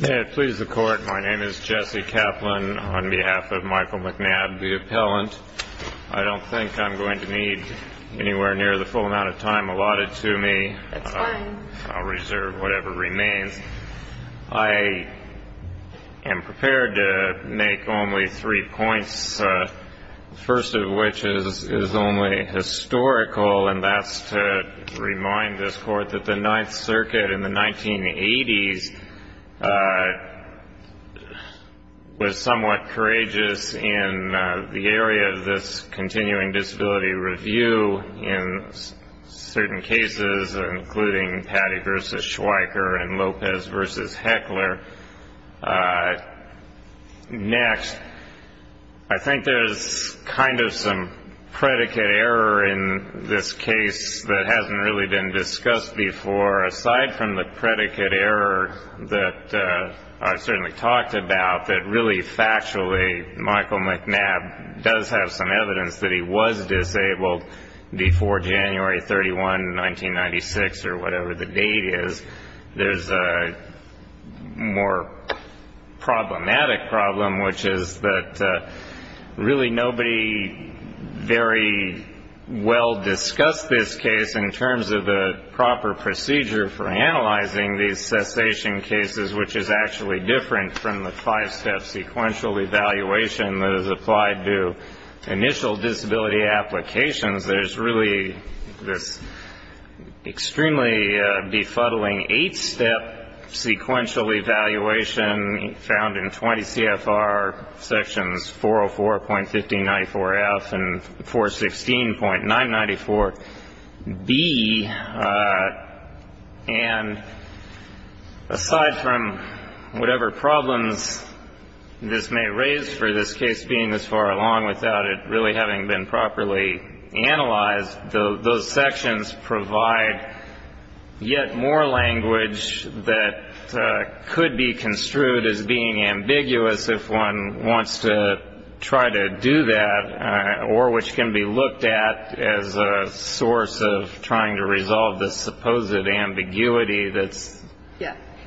May it please the Court, my name is Jesse Kaplan on behalf of Michael McNabb, the appellant. I don't think I'm going to need anywhere near the full amount of time allotted to me. That's fine. I'll reserve whatever remains. I am prepared to make only three points, the first of which is only historical, and that's to remind this Court that the Ninth Circuit in the 1980s was somewhat courageous in the area of this continuing disability review in certain cases, including Patty v. Schweiker and Lopez v. Heckler. Next, I think there's kind of some predicate error in this case that hasn't really been discussed before. Aside from the predicate error that I've certainly talked about, that really factually Michael McNabb does have some evidence that he was disabled before January 31, 1996, or whatever the date is, there's a more problematic problem, which is that really nobody very well discussed this case in terms of the proper procedure for analyzing these cessation cases, which is actually different from the five-step sequential evaluation that is applied to initial disability applications. There's really this extremely befuddling eight-step sequential evaluation found in 20 CFR sections, 404.1594F and 416.994B. And aside from whatever problems this may raise for this case being this far along without it really having been properly analyzed, those sections provide yet more language that could be construed as being ambiguous if one wants to try to do that, or which can be looked at as a source of trying to resolve this supposed ambiguity that's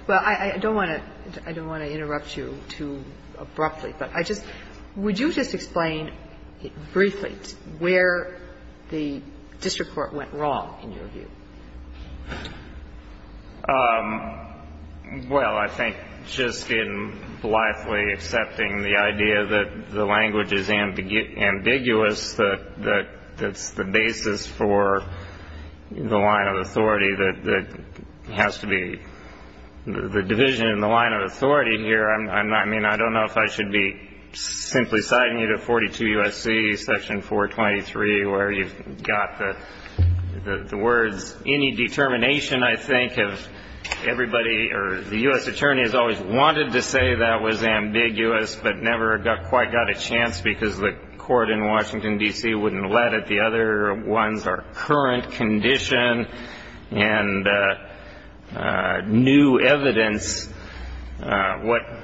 ‑‑ Would you just explain briefly where the district court went wrong in your view? Well, I think just in blithely accepting the idea that the language is ambiguous, that that's the basis for the line of authority that has to be the division in the line of authority here. I mean, I don't know if I should be simply citing you to 42 U.S.C. section 423, where you've got the words, any determination I think of everybody or the U.S. attorney has always wanted to say that was ambiguous but never quite got a chance because the court in Washington, D.C. wouldn't let it. I don't know if the other ones are current condition and new evidence. What ‑‑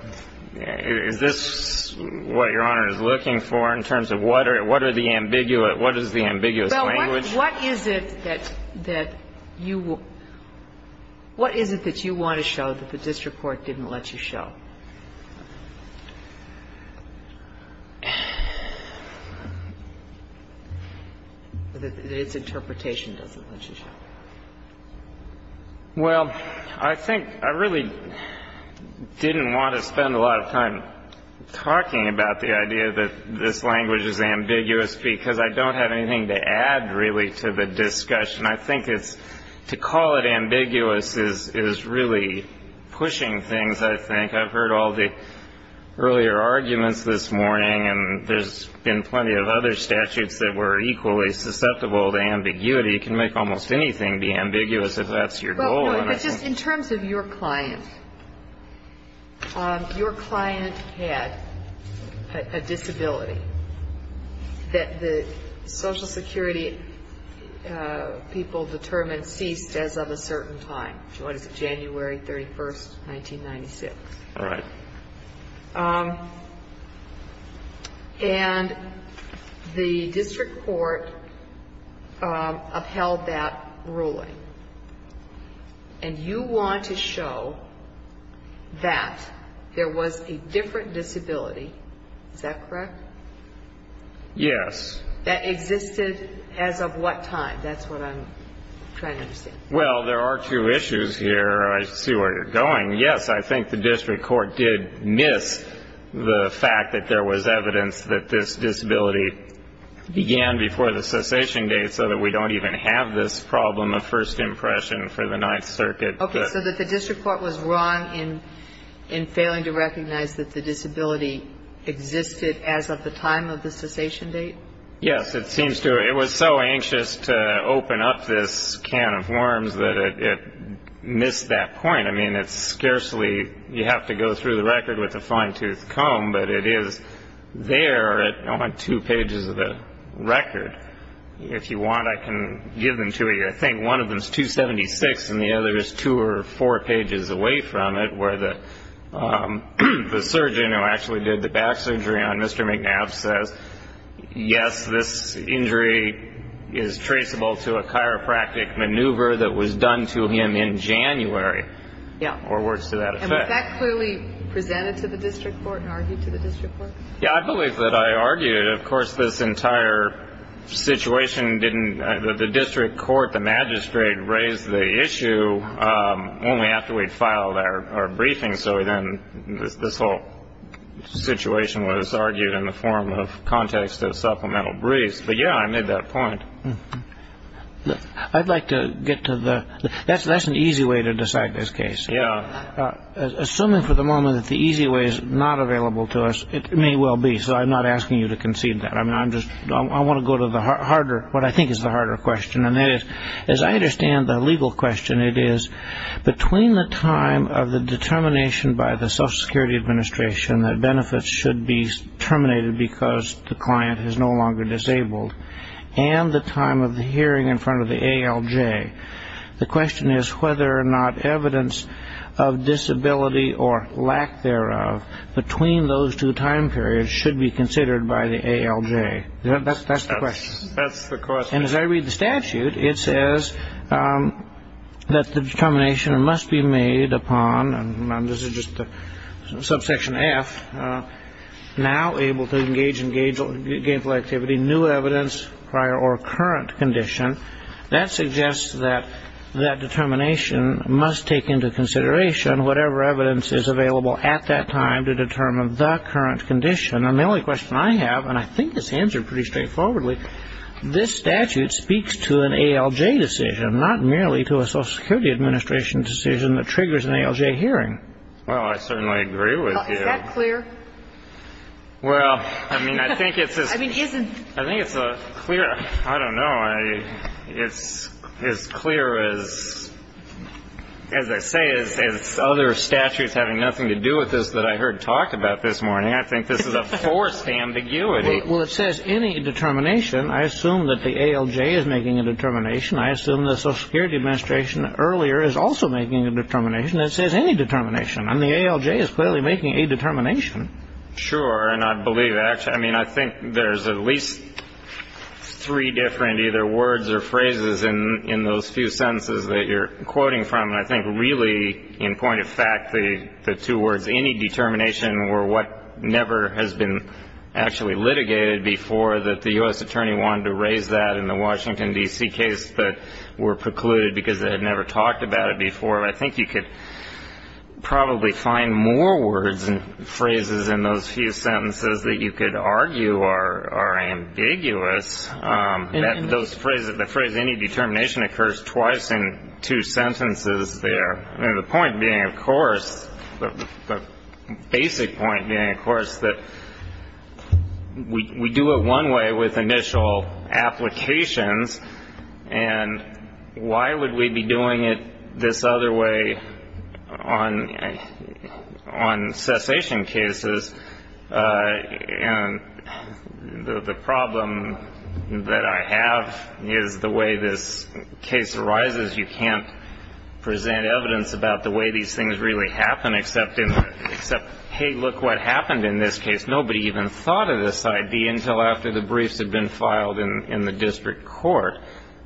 is this what Your Honor is looking for in terms of what are the ambiguous ‑‑ what is the ambiguous language? What is it that you want to show that the district court didn't let you show? That its interpretation doesn't let you show? Well, I think I really didn't want to spend a lot of time talking about the idea that this language is ambiguous because I don't have anything to add really to the discussion. I think to call it ambiguous is really pushing things I think. I've heard all the earlier arguments this morning and there's been plenty of other statutes that were equally susceptible to ambiguity. You can make almost anything be ambiguous if that's your goal. But just in terms of your client, your client had a disability that the social security people determined ceased as of a certain time. What is it, January 31st, 1996? All right. And the district court upheld that ruling. And you want to show that there was a different disability, is that correct? Yes. That existed as of what time? That's what I'm trying to understand. Well, there are two issues here. I see where you're going. Yes, I think the district court did miss the fact that there was evidence that this disability began before the cessation date so that we don't even have this problem of first impression for the Ninth Circuit. Okay, so that the district court was wrong in failing to recognize that the disability existed as of the time of the cessation date? Yes, it seems to. It was so anxious to open up this can of worms that it missed that point. I mean, it's scarcely you have to go through the record with a fine-toothed comb, but it is there at only two pages of the record. If you want, I can give them to you. I think one of them is 276 and the other is two or four pages away from it where the surgeon who actually did the back surgery on Mr. McNabb says, yes, this injury is traceable to a chiropractic maneuver that was done to him in January. Yeah. Or words to that effect. And was that clearly presented to the district court and argued to the district court? Yeah, I believe that I argued. Of course, this entire situation didn't the district court, the magistrate, raised the issue only after we'd filed our briefing. So then this whole situation was argued in the form of context of supplemental briefs. But, yeah, I made that point. I'd like to get to the – that's an easy way to decide this case. Yeah. Assuming for the moment that the easy way is not available to us, it may well be. So I'm not asking you to concede that. I mean, I'm just – I want to go to the harder – what I think is the harder question. And that is, as I understand the legal question, it is between the time of the determination by the Social Security Administration that benefits should be terminated because the client is no longer disabled and the time of the hearing in front of the ALJ, the question is whether or not evidence of disability or lack thereof between those two time periods should be considered by the ALJ. That's the question. That's the question. And as I read the statute, it says that the determination must be made upon – and this is just the subsection F – now able to engage in gainful activity, new evidence prior or current condition. That suggests that that determination must take into consideration whatever evidence is available at that time to determine the current condition. And the only question I have, and I think it's answered pretty straightforwardly, this statute speaks to an ALJ decision, not merely to a Social Security Administration decision that triggers an ALJ hearing. Well, I certainly agree with you. Is that clear? Well, I mean, I think it's a – I mean, isn't – I think it's a clear – I don't know. It's as clear as – as I say, as other statutes having nothing to do with this that I heard talked about this morning. I think this is a forced ambiguity. Well, it says any determination. I assume that the ALJ is making a determination. I assume the Social Security Administration earlier is also making a determination. It says any determination. And the ALJ is clearly making a determination. Sure. And I believe – I mean, I think there's at least three different either words or phrases in those few sentences that you're quoting from. And I think really, in point of fact, the two words, any determination, were what never has been actually litigated before, that the U.S. attorney wanted to raise that in the Washington, D.C. case, but were precluded because they had never talked about it before. I think you could probably find more words and phrases in those few sentences that you could argue are ambiguous. The phrase any determination occurs twice in two sentences there. The point being, of course, the basic point being, of course, that we do it one way with initial applications, and why would we be doing it this other way on cessation cases? And the problem that I have is the way this case arises. You can't present evidence about the way these things really happen, except, hey, look what happened in this case. Nobody even thought of this idea until after the briefs had been filed in the district court.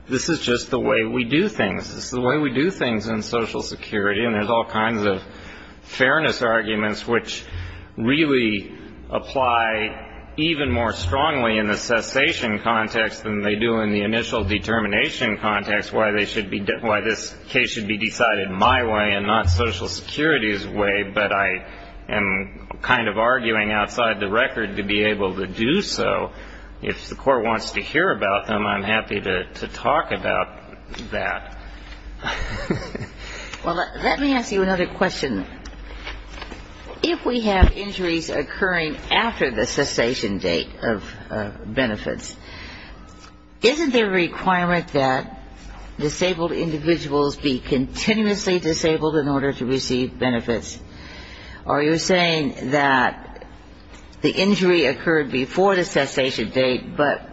This is just the way we do things. This is the way we do things in Social Security. And there's all kinds of fairness arguments which really apply even more strongly in the cessation context than they do in the initial determination context, why this case should be decided my way and not Social Security's way, but I am kind of arguing outside the record to be able to do so. If the court wants to hear about them, I'm happy to talk about that. Well, let me ask you another question. If we have injuries occurring after the cessation date of benefits, isn't there a requirement that disabled individuals be continuously disabled in order to receive benefits? Are you saying that the injury occurred before the cessation date, but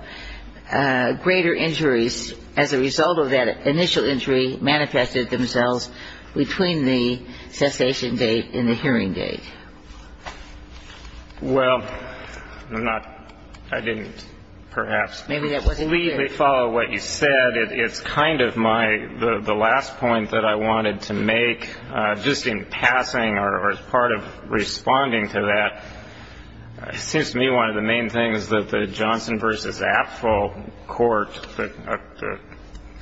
greater injuries as a result of that initial injury manifested themselves between the cessation date and the hearing date? Well, I'm not – I didn't perhaps completely follow what you said. It's kind of my – the last point that I wanted to make, just in passing or as part of responding to that, it seems to me one of the main things that the Johnson v. Apfel court, the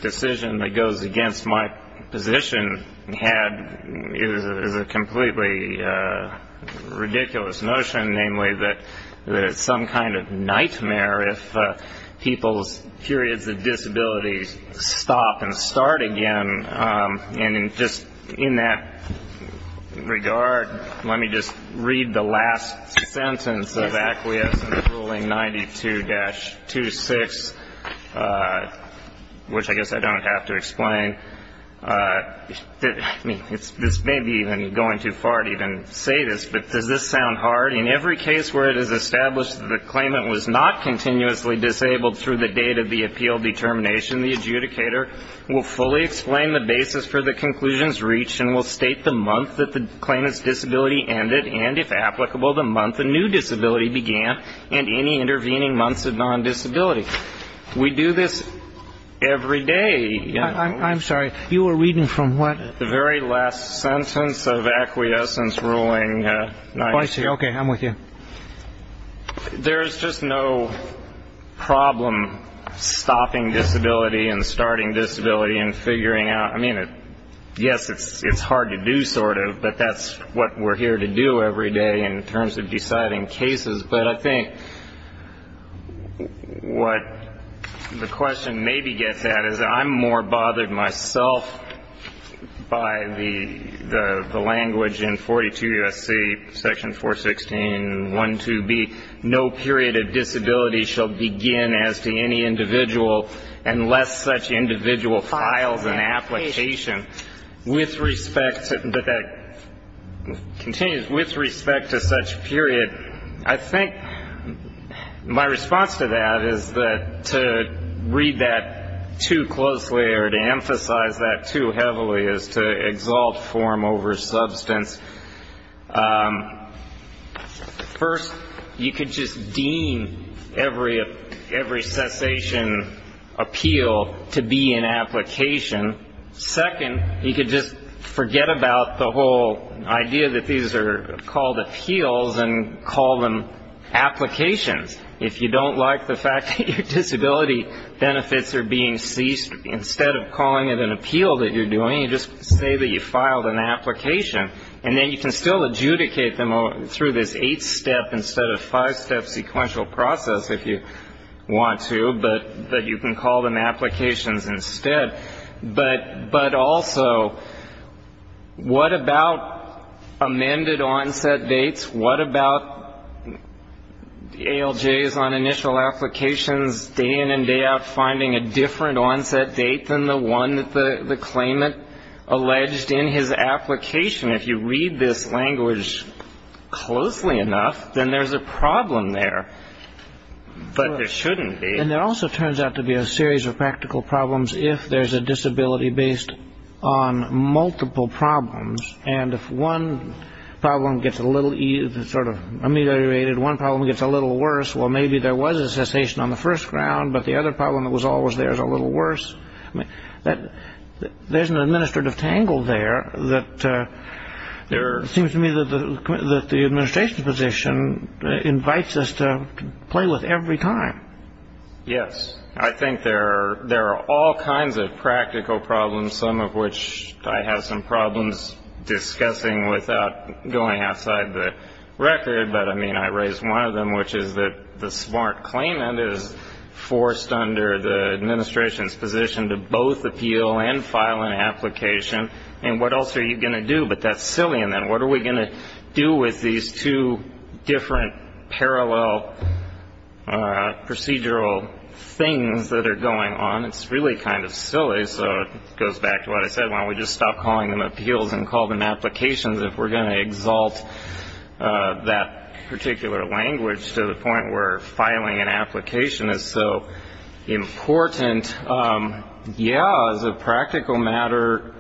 decision that goes against my position, had is a completely ridiculous notion, namely that it's some kind of nightmare if people's periods of disability stop and start again. And just in that regard, let me just read the last sentence of acquiescence ruling 92-26, which I guess I don't have to explain. I mean, this may be even going too far to even say this, but does this sound hard? In every case where it is established that the claimant was not continuously disabled through the date of the appeal determination, the adjudicator will fully explain the basis for the conclusion's reach and will state the month that the claimant's disability ended and, if applicable, the month a new disability began and any intervening months of non-disability. We do this every day. I'm sorry. You were reading from what? The very last sentence of acquiescence ruling 92. Oh, I see. Okay. I'm with you. There is just no problem stopping disability and starting disability and figuring out. I mean, yes, it's hard to do sort of, but that's what we're here to do every day in terms of deciding cases. But I think what the question maybe gets at is I'm more bothered myself by the language in 42 U.S.C. section 416.12b, no period of disability shall begin as to any individual unless such individual files an application. With respect to such period, I think my response to that is to read that too closely or to emphasize that too heavily is to exalt form over substance. First, you could just deem every cessation appeal to be an application. Second, you could just forget about the whole idea that these are called appeals and call them applications. If you don't like the fact that your disability benefits are being ceased, instead of calling it an appeal that you're doing, you just say that you filed an application. And then you can still adjudicate them through this eight-step instead of five-step sequential process if you want to, but you can call them applications instead. But also, what about amended onset dates? What about ALJs on initial applications day in and day out finding a different onset date than the one that the claimant alleged in his application? If you read this language closely enough, then there's a problem there, but there shouldn't be. And there also turns out to be a series of practical problems if there's a disability based on multiple problems. And if one problem gets a little sort of ameliorated, one problem gets a little worse, well, maybe there was a cessation on the first round, but the other problem that was always there is a little worse. There's an administrative tangle there that seems to me that the administration's position invites us to play with every time. Yes. I think there are all kinds of practical problems, some of which I have some problems discussing without going outside the record, but, I mean, I raised one of them, which is that the smart claimant is forced under the administration's position to both appeal and file an application, and what else are you going to do? But that's silly, and then what are we going to do with these two different parallel procedural things that are going on? It's really kind of silly, so it goes back to what I said. Why don't we just stop calling them appeals and call them applications if we're going to exalt that particular language to the point where filing an application is so important? Yeah, as a practical matter,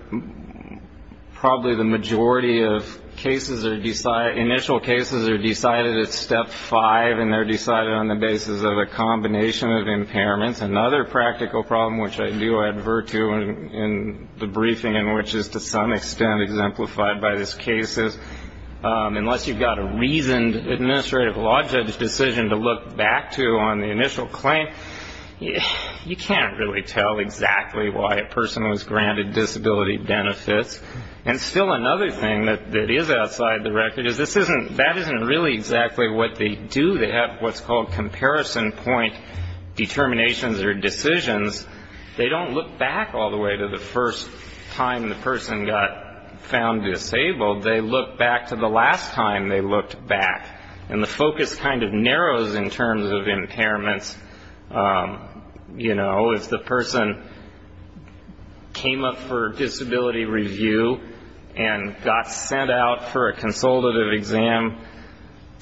probably the majority of initial cases are decided at step five, and they're decided on the basis of a combination of impairments. Another practical problem, which I do advert to in the briefing and which is to some extent exemplified by this case, is unless you've got a reasoned administrative law judge decision to look back to on the initial claim, you can't really tell exactly why a person was granted disability benefits. And still another thing that is outside the record is that isn't really exactly what they do. They have what's called comparison point determinations or decisions. They don't look back all the way to the first time the person got found disabled. They look back to the last time they looked back, and the focus kind of narrows in terms of impairments. You know, if the person came up for disability review and got sent out for a consultative exam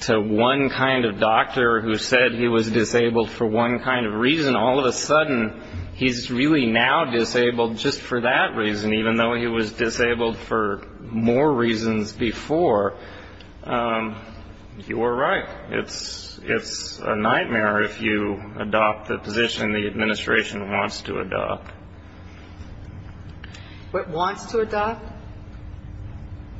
to one kind of doctor who said he was disabled for one kind of reason, all of a sudden he's really now disabled just for that reason, even though he was disabled for more reasons before, you were right. It's a nightmare if you adopt the position the administration wants to adopt. What wants to adopt?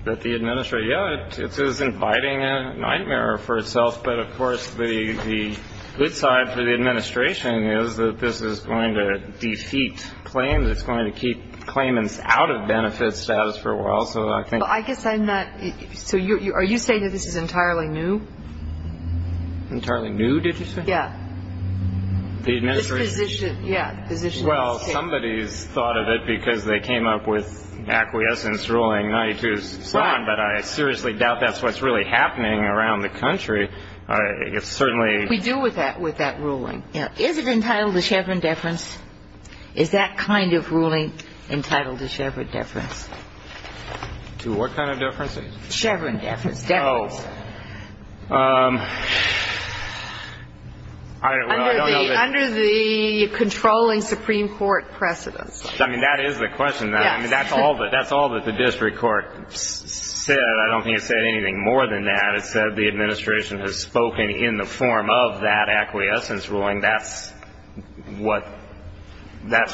That the administration, yeah, it is inviting a nightmare for itself. But, of course, the good side for the administration is that this is going to defeat claims. It's going to keep claimants out of benefit status for a while. So are you saying that this is entirely new? Entirely new, did you say? Yeah. The administration? Yeah. Well, somebody's thought of it because they came up with acquiescence ruling 92-7, but I seriously doubt that's what's really happening around the country. We do with that ruling. Is it entitled to Chevron deference? Is that kind of ruling entitled to Chevron deference? To what kind of deference? Chevron deference, deference. Oh. Under the controlling Supreme Court precedence. I mean, that is the question. Yes. I mean, that's all that the district court said. I don't think it said anything more than that. It said the administration has spoken in the form of that acquiescence ruling. That's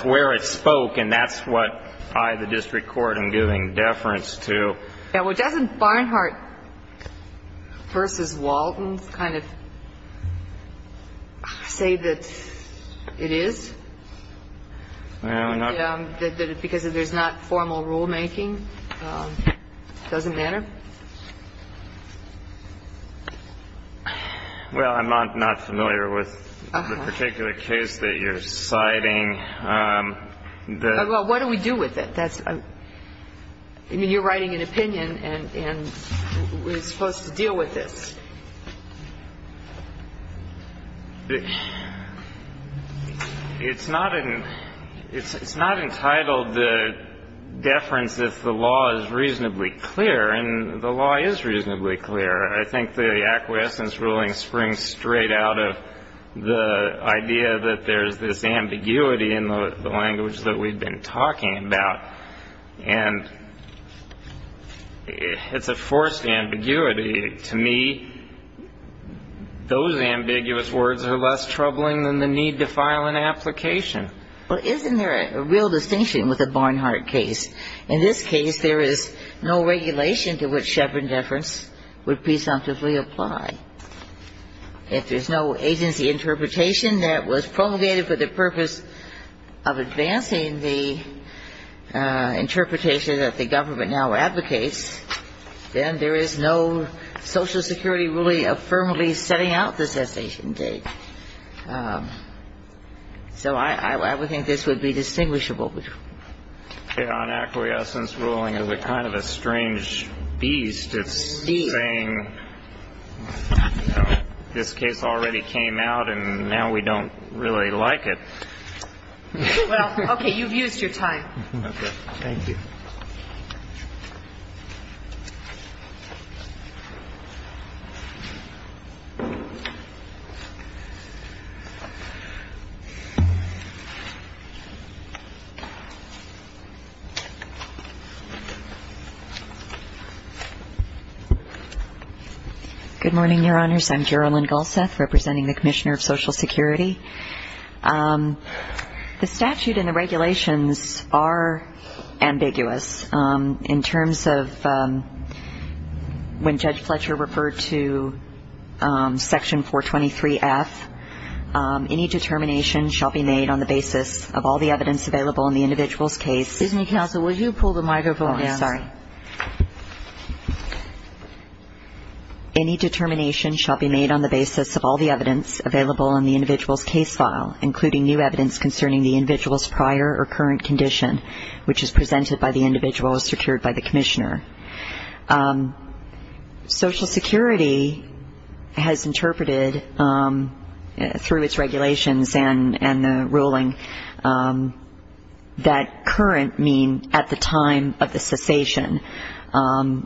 where it spoke, and that's what I, the district court, am giving deference to. Yeah, well, doesn't Barnhart v. Walton kind of say that it is because there's not formal rulemaking? It doesn't matter? Well, I'm not familiar with the particular case that you're citing. Well, what do we do with it? I mean, you're writing an opinion, and we're supposed to deal with this. It's not entitled to deference if the law is reasonably clear. And the law is reasonably clear. I think the acquiescence ruling springs straight out of the idea that there's this ambiguity in the language that we've been talking about. And it's a forced ambiguity. To me, those ambiguous words are less troubling than the need to file an application. Well, isn't there a real distinction with the Barnhart case? In this case, there is no regulation to which Chevron deference would presumptively apply. If there's no agency interpretation that was promulgated for the purpose of advancing the interpretation that the government now advocates, then there is no Social Security ruling affirmatively setting out the cessation date. So I would think this would be distinguishable. On acquiescence ruling, it's kind of a strange beast. It's saying this case already came out, and now we don't really like it. Well, okay. You've used your time. Okay. Thank you. Thank you. Good morning, Your Honors. I'm Carolyn Gulseth, representing the Commissioner of Social Security. The statute and the regulations are ambiguous. In terms of when Judge Fletcher referred to Section 423F, any determination shall be made on the basis of all the evidence available in the individual's case. Excuse me, Counsel. Oh, sorry. Any determination shall be made on the basis of all the evidence available in the individual's case file, including new evidence concerning the individual's prior or current condition, which is presented by the individual as secured by the Commissioner. Social Security has interpreted, through its regulations and the ruling, that current means at the time of the cessation.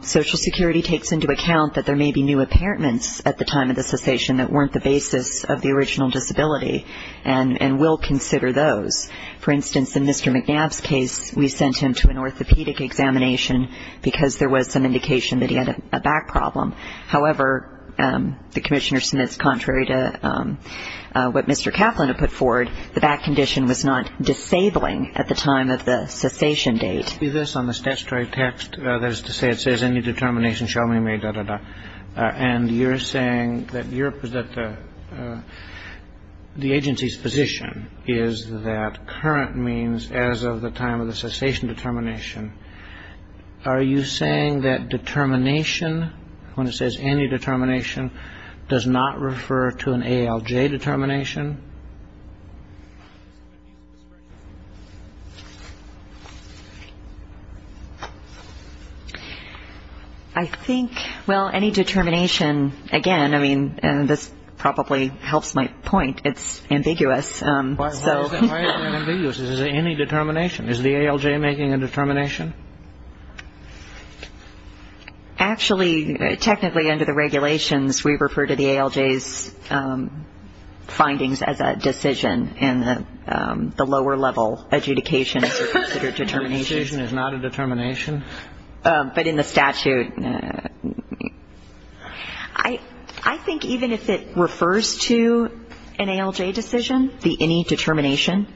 Social Security takes into account that there may be new apparentments at the time of the cessation that weren't the basis of the original disability and will consider those. For instance, in Mr. McNabb's case, we sent him to an orthopedic examination because there was some indication that he had a back problem. However, the Commissioner submits, contrary to what Mr. Kaplan had put forward, the back condition was not disabling at the time of the cessation date. It must be this on the statutory text. That is to say, it says any determination shall be made. And you're saying that the agency's position is that current means as of the time of the cessation determination. Are you saying that determination, when it says any determination, does not refer to an ALJ determination? I think, well, any determination, again, I mean, and this probably helps my point, it's ambiguous. Why is that ambiguous? Is it any determination? Is the ALJ making a determination? Actually, technically, under the regulations, we refer to the ALJ's findings as a decision and the lower level adjudication is considered determination. The decision is not a determination? But in the statute. I think even if it refers to an ALJ decision, the any determination,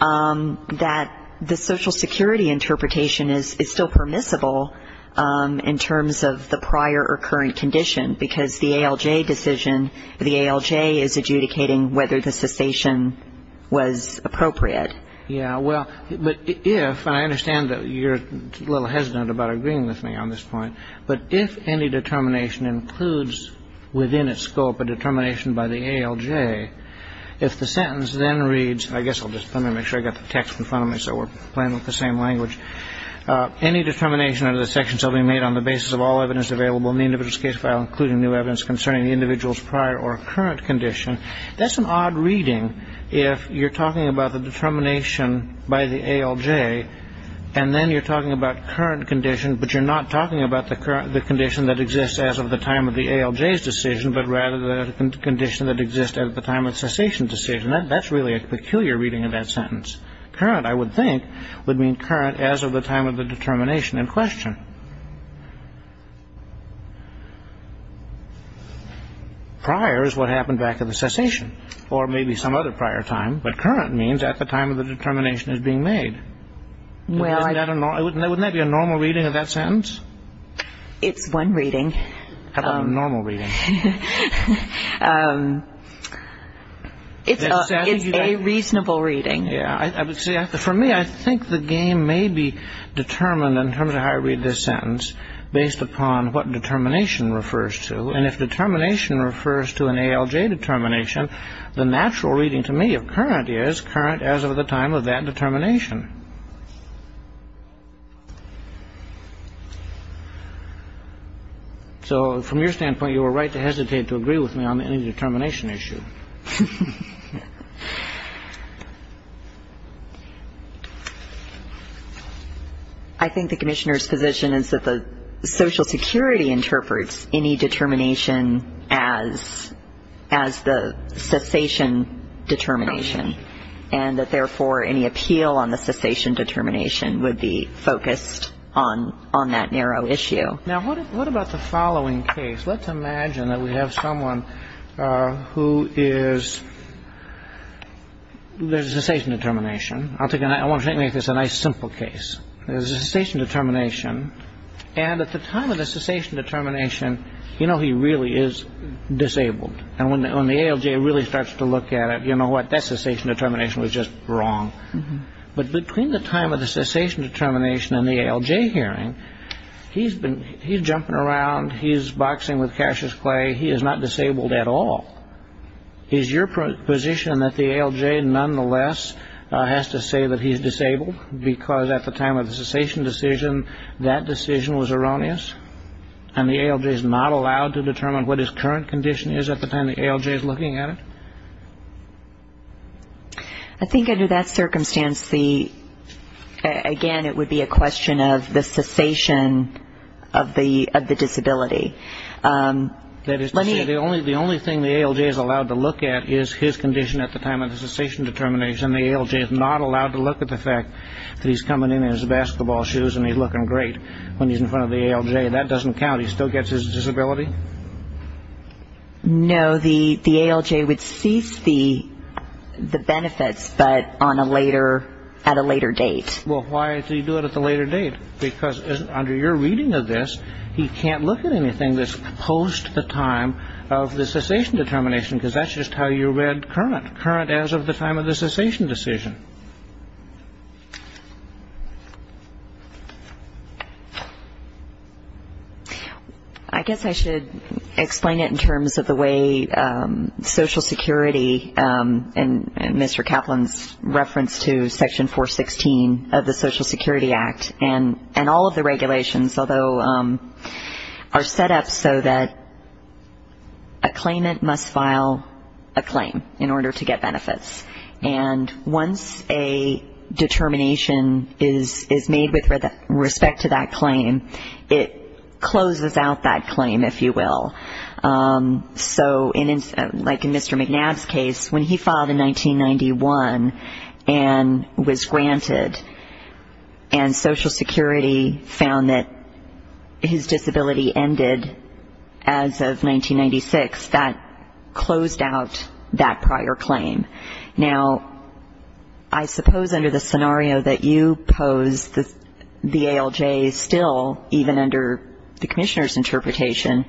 that the Social Security interpretation is still permissible in terms of the prior or current condition because the ALJ decision, the ALJ is adjudicating whether the cessation was appropriate. Yeah, well, but if, and I understand that you're a little hesitant about agreeing with me on this point, but if any determination includes within its scope a determination by the ALJ, if the sentence then reads, I guess I'll just let me make sure I got the text in front of me so we're playing with the same language. Any determination under the section shall be made on the basis of all evidence available in the individual's case file including new evidence concerning the individual's prior or current condition. That's an odd reading if you're talking about the determination by the ALJ and then you're talking about current condition, but you're not talking about the condition that exists as of the time of the ALJ's decision, but rather the condition that exists at the time of the cessation decision. That's really a peculiar reading of that sentence. Current, I would think, would mean current as of the time of the determination in question. Prior is what happened back at the cessation or maybe some other prior time, but current means at the time of the determination is being made. Wouldn't that be a normal reading of that sentence? It's one reading. How about a normal reading? It's a reasonable reading. Yeah, I would say, for me, I think the game may be determined in terms of how I read this sentence. Based upon what determination refers to. And if determination refers to an ALJ determination, the natural reading to me of current is current as of the time of that determination. So from your standpoint, you were right to hesitate to agree with me on any determination issue. I think the commissioner's position is that the Social Security interprets any determination as the cessation determination and that, therefore, any appeal on the cessation determination would be focused on that narrow issue. Now, what about the following case? Let's imagine that we have someone who is the cessation determination. I want to make this a nice, simple case. There's a cessation determination. And at the time of the cessation determination, you know he really is disabled. And when the ALJ really starts to look at it, you know what? That cessation determination was just wrong. But between the time of the cessation determination and the ALJ hearing, he's jumping around, he's boxing with Cassius Clay, he is not disabled at all. Is your position that the ALJ, nonetheless, has to say that he's disabled because at the time of the cessation decision that decision was erroneous and the ALJ is not allowed to determine what his current condition is at the time the ALJ is looking at it? I think under that circumstance, again, it would be a question of the cessation of the disability. The only thing the ALJ is allowed to look at is his condition at the time of the cessation determination. The ALJ is not allowed to look at the fact that he's coming in in his basketball shoes and he's looking great when he's in front of the ALJ. That doesn't count. He still gets his disability? No, the ALJ would cease the benefits but at a later date. Well, why do you do it at a later date? Because under your reading of this, he can't look at anything that's post the time of the cessation determination because that's just how you read current, current as of the time of the cessation decision. I guess I should explain it in terms of the way Social Security and Mr. Kaplan's reference to Section 416 of the Social Security Act and all of the regulations, although, are set up so that a claimant must file a claim in order to get benefits. And once a determination is made with respect to that claim, it closes out that claim, if you will. So like in Mr. McNabb's case, when he filed in 1991 and was granted and Social Security found that his disability ended as of 1996, that closed out that prior claim. Now, I suppose under the scenario that you pose, the ALJ still, even under the Commissioner's interpretation,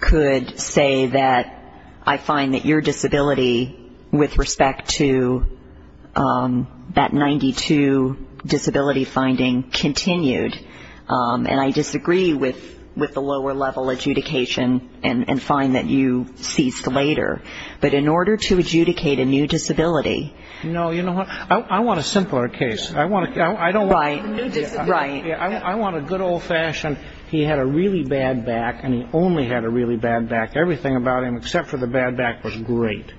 could say that I find that your disability with respect to that 92 disability finding continued, and I disagree with the lower level adjudication and find that you ceased later. But in order to adjudicate a new disability... No, you know what, I want a simpler case. I don't want a new disability. I want a good old-fashioned, he had a really bad back, and he only had a really bad back. Everything about him except for the bad back was great.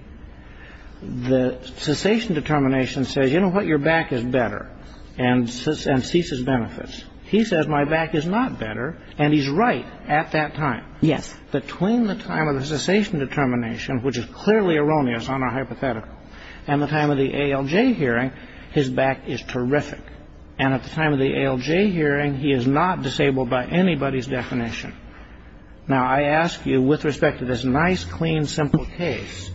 The cessation determination says, you know what, your back is better, and ceases benefits. He says my back is not better, and he's right at that time. Yes. Between the time of the cessation determination, which is clearly erroneous on a hypothetical, and the time of the ALJ hearing, his back is terrific. And at the time of the ALJ hearing, he is not disabled by anybody's definition. Now, I ask you with respect to this nice, clean, simple case,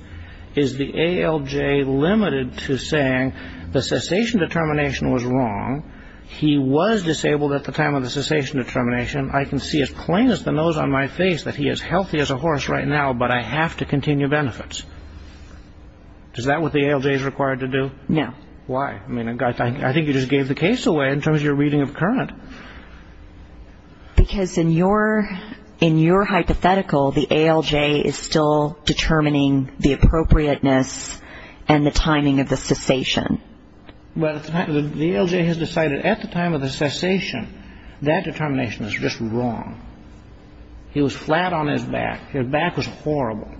is the ALJ limited to saying the cessation determination was wrong, he was disabled at the time of the cessation determination, I can see as plain as the nose on my face that he is healthy as a horse right now, but I have to continue benefits. Is that what the ALJ is required to do? No. Why? I mean, I think you just gave the case away in terms of your reading of current. Because in your hypothetical, the ALJ is still determining the appropriateness and the timing of the cessation. Well, the ALJ has decided at the time of the cessation that determination is just wrong. He was flat on his back. His back was horrible.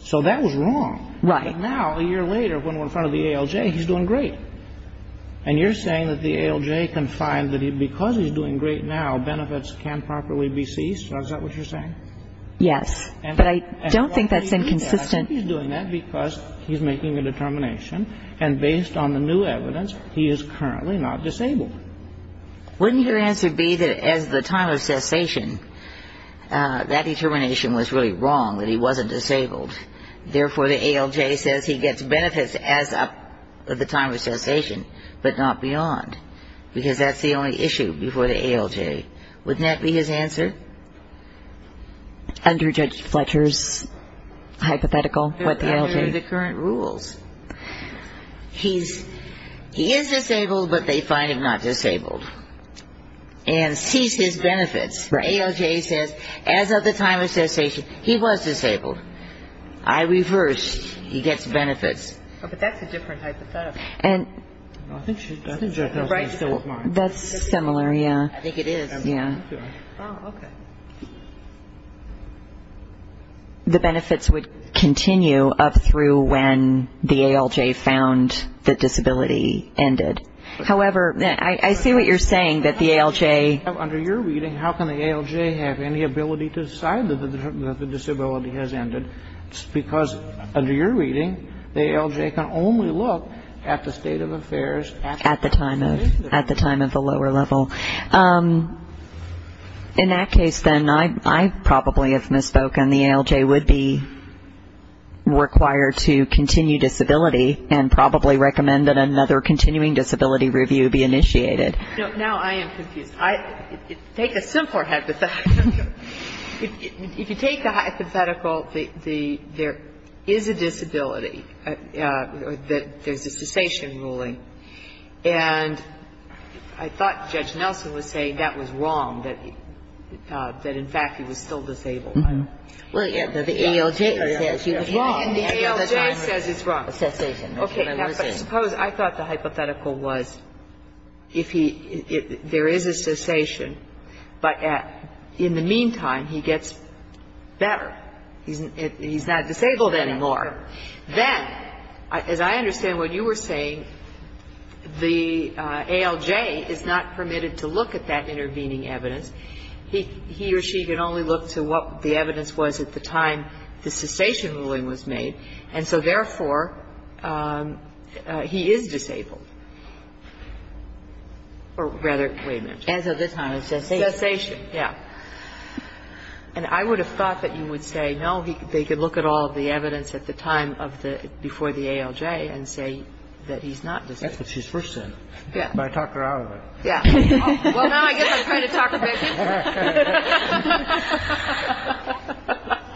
So that was wrong. Right. But now, a year later, when we're in front of the ALJ, he's doing great. And you're saying that the ALJ can find that because he's doing great now, benefits can properly be seized? Is that what you're saying? Yes. But I don't think that's inconsistent. I think he's doing that because he's making a determination, and based on the new evidence, he is currently not disabled. Wouldn't your answer be that as the time of cessation, that determination was really wrong, that he wasn't disabled? Therefore, the ALJ says he gets benefits as of the time of cessation, but not beyond, because that's the only issue before the ALJ. Wouldn't that be his answer? Under Judge Fletcher's hypothetical, what the ALJ? Under the current rules. He is disabled, but they find him not disabled and seize his benefits. The ALJ says, as of the time of cessation, he was disabled. I reversed. He gets benefits. But that's a different hypothetical. That's similar, yeah. I think it is. Yeah. Oh, okay. The benefits would continue up through when the ALJ found the disability ended. However, I see what you're saying, that the ALJ. Under your reading, how can the ALJ have any ability to decide that the disability has ended? Because under your reading, the ALJ can only look at the state of affairs. At the time of the lower level. In that case, then, I probably have misspoken. The ALJ would be required to continue disability and probably recommend that another continuing disability review be initiated. Now I am confused. Take a simpler hypothetical. If you take the hypothetical, there is a disability, that there's a cessation ruling. And I thought Judge Nelson was saying that was wrong, that in fact he was still disabled. Well, yeah, but the ALJ says he was wrong. The ALJ says it's wrong. Okay. Now, but suppose, I thought the hypothetical was if he, there is a cessation, but in the meantime, he gets better. He's not disabled anymore. Then, as I understand what you were saying, the ALJ is not permitted to look at that intervening evidence. He or she can only look to what the evidence was at the time the cessation ruling was made. And so, therefore, he is disabled. Or rather, wait a minute. As of this time, it's cessation. Cessation, yeah. And I would have thought that you would say, no, they could look at all the evidence at the time of the, before the ALJ and say that he's not disabled. That's what she first said. Yeah. But I talked her out of it. Yeah. Well, now I guess I'm trying to talk her back in.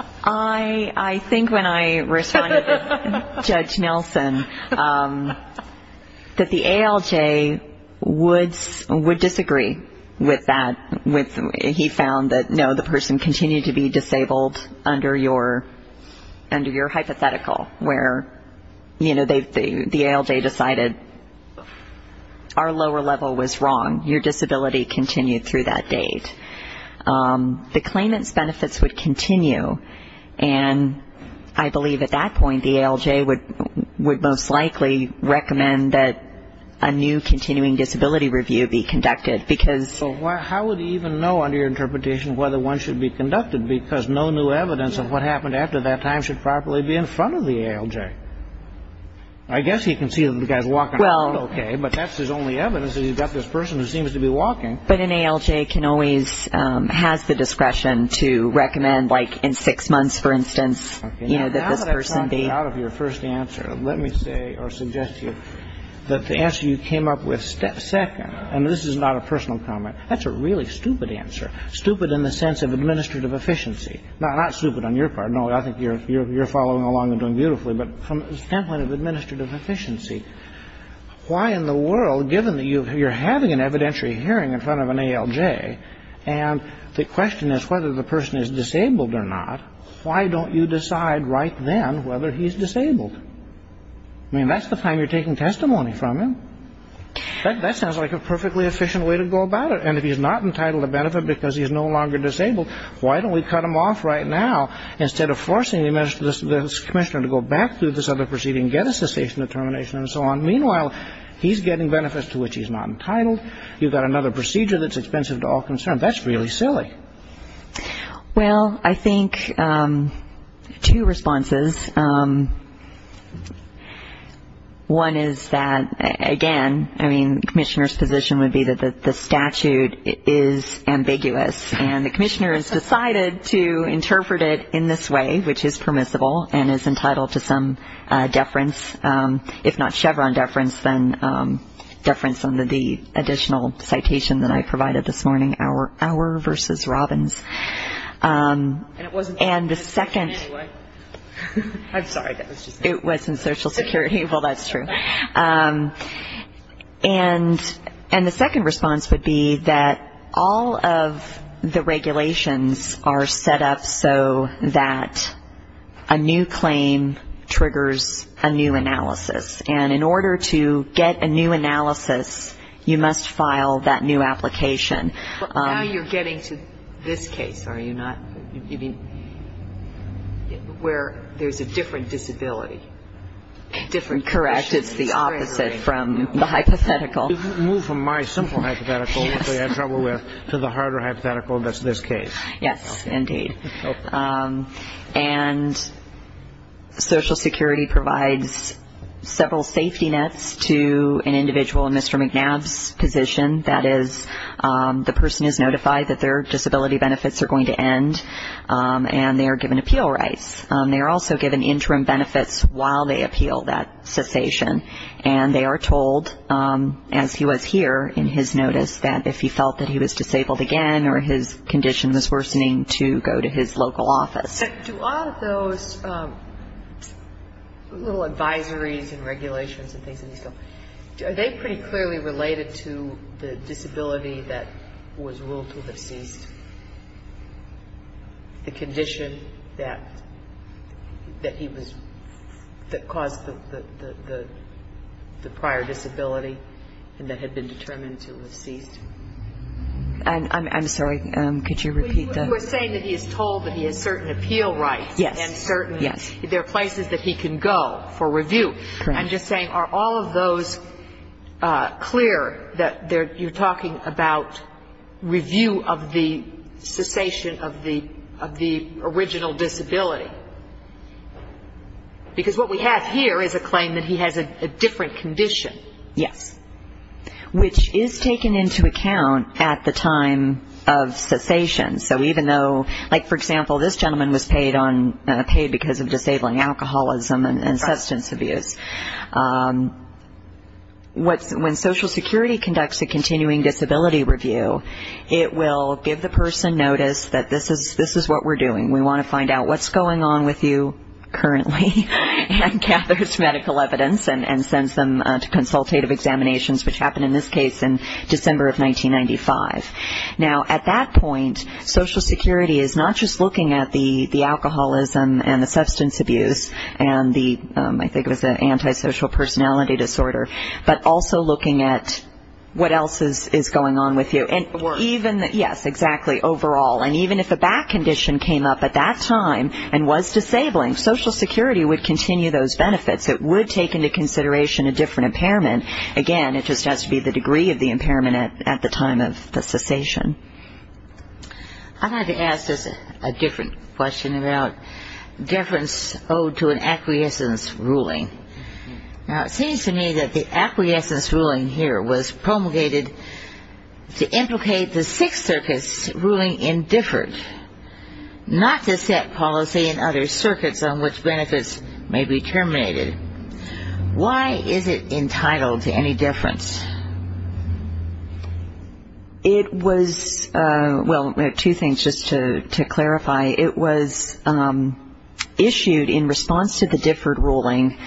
I think when I responded to Judge Nelson, that the ALJ would disagree with that, he found that, no, the person continued to be disabled under your hypothetical, where, you know, the ALJ decided our lower level was wrong. Your disability continued through that date. The claimant's benefits would continue, and I believe at that point the ALJ would most likely recommend that a new continuing disability review be conducted. So how would he even know under your interpretation whether one should be conducted? Because no new evidence of what happened after that time should properly be in front of the ALJ. I guess he can see that the guy's walking around okay, but that's his only evidence that he's got this person who seems to be walking. But an ALJ can always, has the discretion to recommend, like, in six months, for instance, you know, that this person be. Now that I've talked you out of your first answer, let me say or suggest to you that the answer you came up with second, and this is not a personal comment, that's a really stupid answer, stupid in the sense of administrative efficiency. Not stupid on your part. No, I think you're following along and doing beautifully. But from the standpoint of administrative efficiency, why in the world, given that you're having an evidentiary hearing in front of an ALJ, and the question is whether the person is disabled or not, why don't you decide right then whether he's disabled? I mean, that's the time you're taking testimony from him. That sounds like a perfectly efficient way to go about it. And if he's not entitled to benefit because he's no longer disabled, why don't we cut him off right now instead of forcing this commissioner to go back through this other proceeding and get a cessation determination and so on. Meanwhile, he's getting benefits to which he's not entitled. You've got another procedure that's expensive to all concerned. That's really silly. Well, I think two responses. One is that, again, I mean, the commissioner's position would be that the statute is ambiguous, and the commissioner has decided to interpret it in this way, which is permissible, and is entitled to some deference, if not Chevron deference, then deference under the additional citation that I provided this morning, our versus Robbins. And it wasn't Social Security anyway. I'm sorry. It wasn't Social Security. Well, that's true. And the second response would be that all of the regulations are set up so that a new claim triggers a new analysis. And in order to get a new analysis, you must file that new application. But now you're getting to this case, are you not? You mean where there's a different disability? Correct. It's the opposite from the hypothetical. You've moved from my simple hypothetical, which we had trouble with, to the harder hypothetical that's this case. Yes, indeed. And Social Security provides several safety nets to an individual in Mr. McNabb's position. That is, the person is notified that their disability benefits are going to end, and they are given appeal rights. They are also given interim benefits while they appeal that cessation, and they are told, as he was here in his notice, that if he felt that he was disabled again or his condition was worsening, to go to his local office. So do all of those little advisories and regulations and things of this sort, are they pretty clearly related to the disability that was ruled to have ceased? The condition that he was – that caused the prior disability and that had been determined to have ceased? I'm sorry. Could you repeat that? You were saying that he is told that he has certain appeal rights. Yes. And certain – there are places that he can go for review. Correct. I'm just saying, are all of those clear that you're talking about review of the cessation of the original disability? Because what we have here is a claim that he has a different condition. Yes. Which is taken into account at the time of cessation. So even though – like, for example, this gentleman was paid because of disabling alcoholism and substance abuse. When Social Security conducts a continuing disability review, it will give the person notice that this is what we're doing. We want to find out what's going on with you currently, and gathers medical evidence and sends them to consultative examinations, which happened in this case in December of 1995. Now, at that point, Social Security is not just looking at the alcoholism and the substance abuse and the – I think it was the antisocial personality disorder, but also looking at what else is going on with you. The work. Yes, exactly. Overall. And even if a back condition came up at that time and was disabling, Social Security would continue those benefits. It would take into consideration a different impairment. Again, it just has to be the degree of the impairment at the time of the cessation. I'd like to ask just a different question about deference owed to an acquiescence ruling. Now, it seems to me that the acquiescence ruling here was promulgated to implicate the Sixth Circus ruling indifferent, not to set policy in other circuits on which benefits may be terminated. Why is it entitled to any deference? It was – well, two things just to clarify. It was issued in response to the differed ruling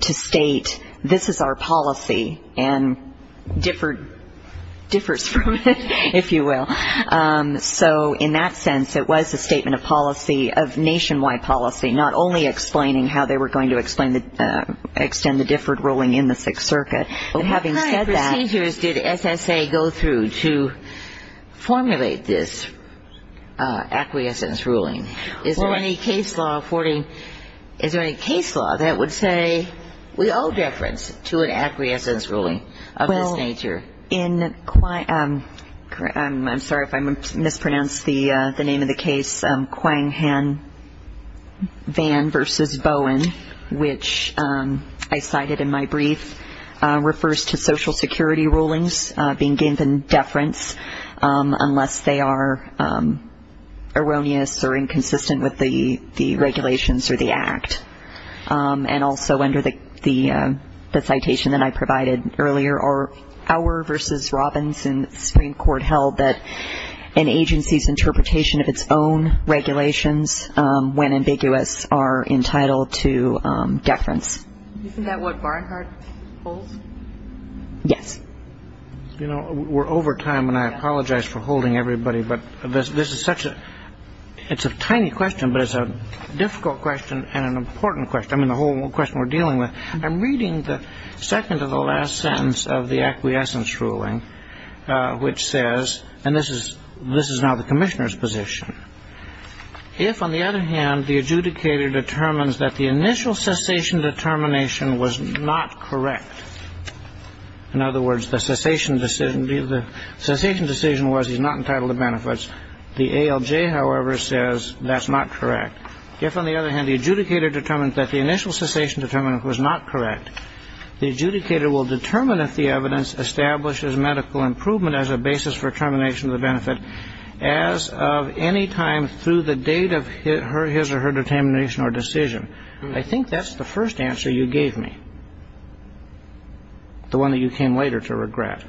to state, this is our policy and differs from it, if you will. So in that sense, it was a statement of policy, of nationwide policy, not only explaining how they were going to extend the differed ruling in the Sixth Circuit, but having said that – What kind of procedures did SSA go through to formulate this acquiescence ruling? Is there any case law that would say we owe deference to an acquiescence ruling of this nature? In – I'm sorry if I mispronounced the name of the case, Quang Han Van v. Bowen, which I cited in my brief, refers to Social Security rulings being given deference unless they are erroneous or inconsistent with the regulations or the Act. And also under the citation that I provided earlier, our v. Robbins in the Supreme Court held that an agency's interpretation of its own regulations when ambiguous are entitled to deference. Isn't that what Barnhart holds? Yes. You know, we're over time and I apologize for holding everybody, but this is such a – I mean, the whole question we're dealing with. I'm reading the second to the last sentence of the acquiescence ruling, which says – and this is now the commissioner's position – if, on the other hand, the adjudicator determines that the initial cessation determination was not correct, in other words, the cessation decision was he's not entitled to benefits, the ALJ, however, says that's not correct. If, on the other hand, the adjudicator determines that the initial cessation determination was not correct, the adjudicator will determine if the evidence establishes medical improvement as a basis for termination of the benefit as of any time through the date of his or her determination or decision. I think that's the first answer you gave me, the one that you came later to regret.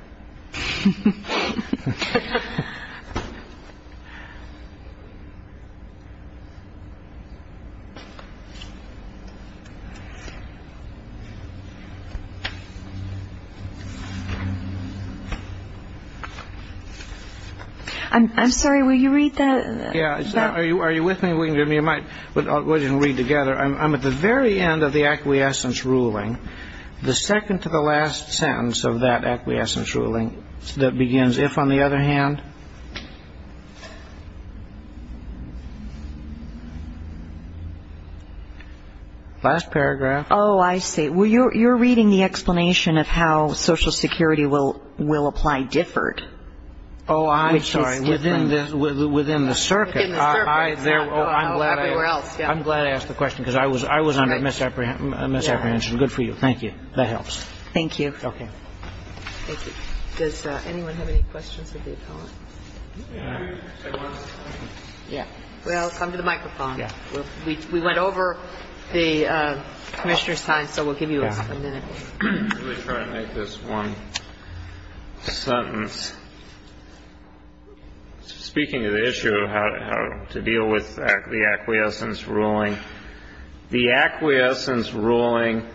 I'm sorry. Will you read that? Yeah. Are you with me? We can read together. I'm at the very end of the acquiescence ruling. The second to the last sentence of that acquiescence ruling that begins, if, on the other hand – last paragraph. Oh, I see. Well, you're reading the explanation of how Social Security will apply differed. Oh, I'm sorry. Which is different. Within the circuit. Within the circuit. Everywhere else. I'm glad I asked the question because I was under misapprehension. Good for you. Thank you. That helps. Thank you. Okay. Thank you. Does anyone have any questions of the appellant? Yeah. Well, come to the microphone. Yeah. We went over the Commissioner's time, so we'll give you a minute. Let me try to make this one sentence. Speaking of the issue of how to deal with the acquiescence ruling, the acquiescence ruling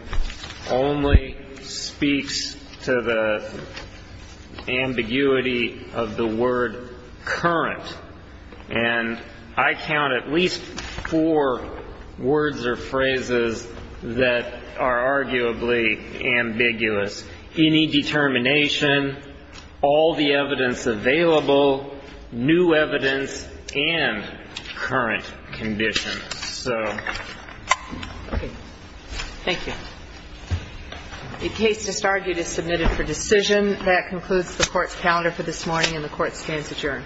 only speaks to the ambiguity of the word current. And I count at least four words or phrases that are arguably ambiguous. Any determination, all the evidence available, new evidence, and current conditions. So. Okay. Thank you. The case just argued is submitted for decision. That concludes the Court's calendar for this morning, and the Court stands adjourned.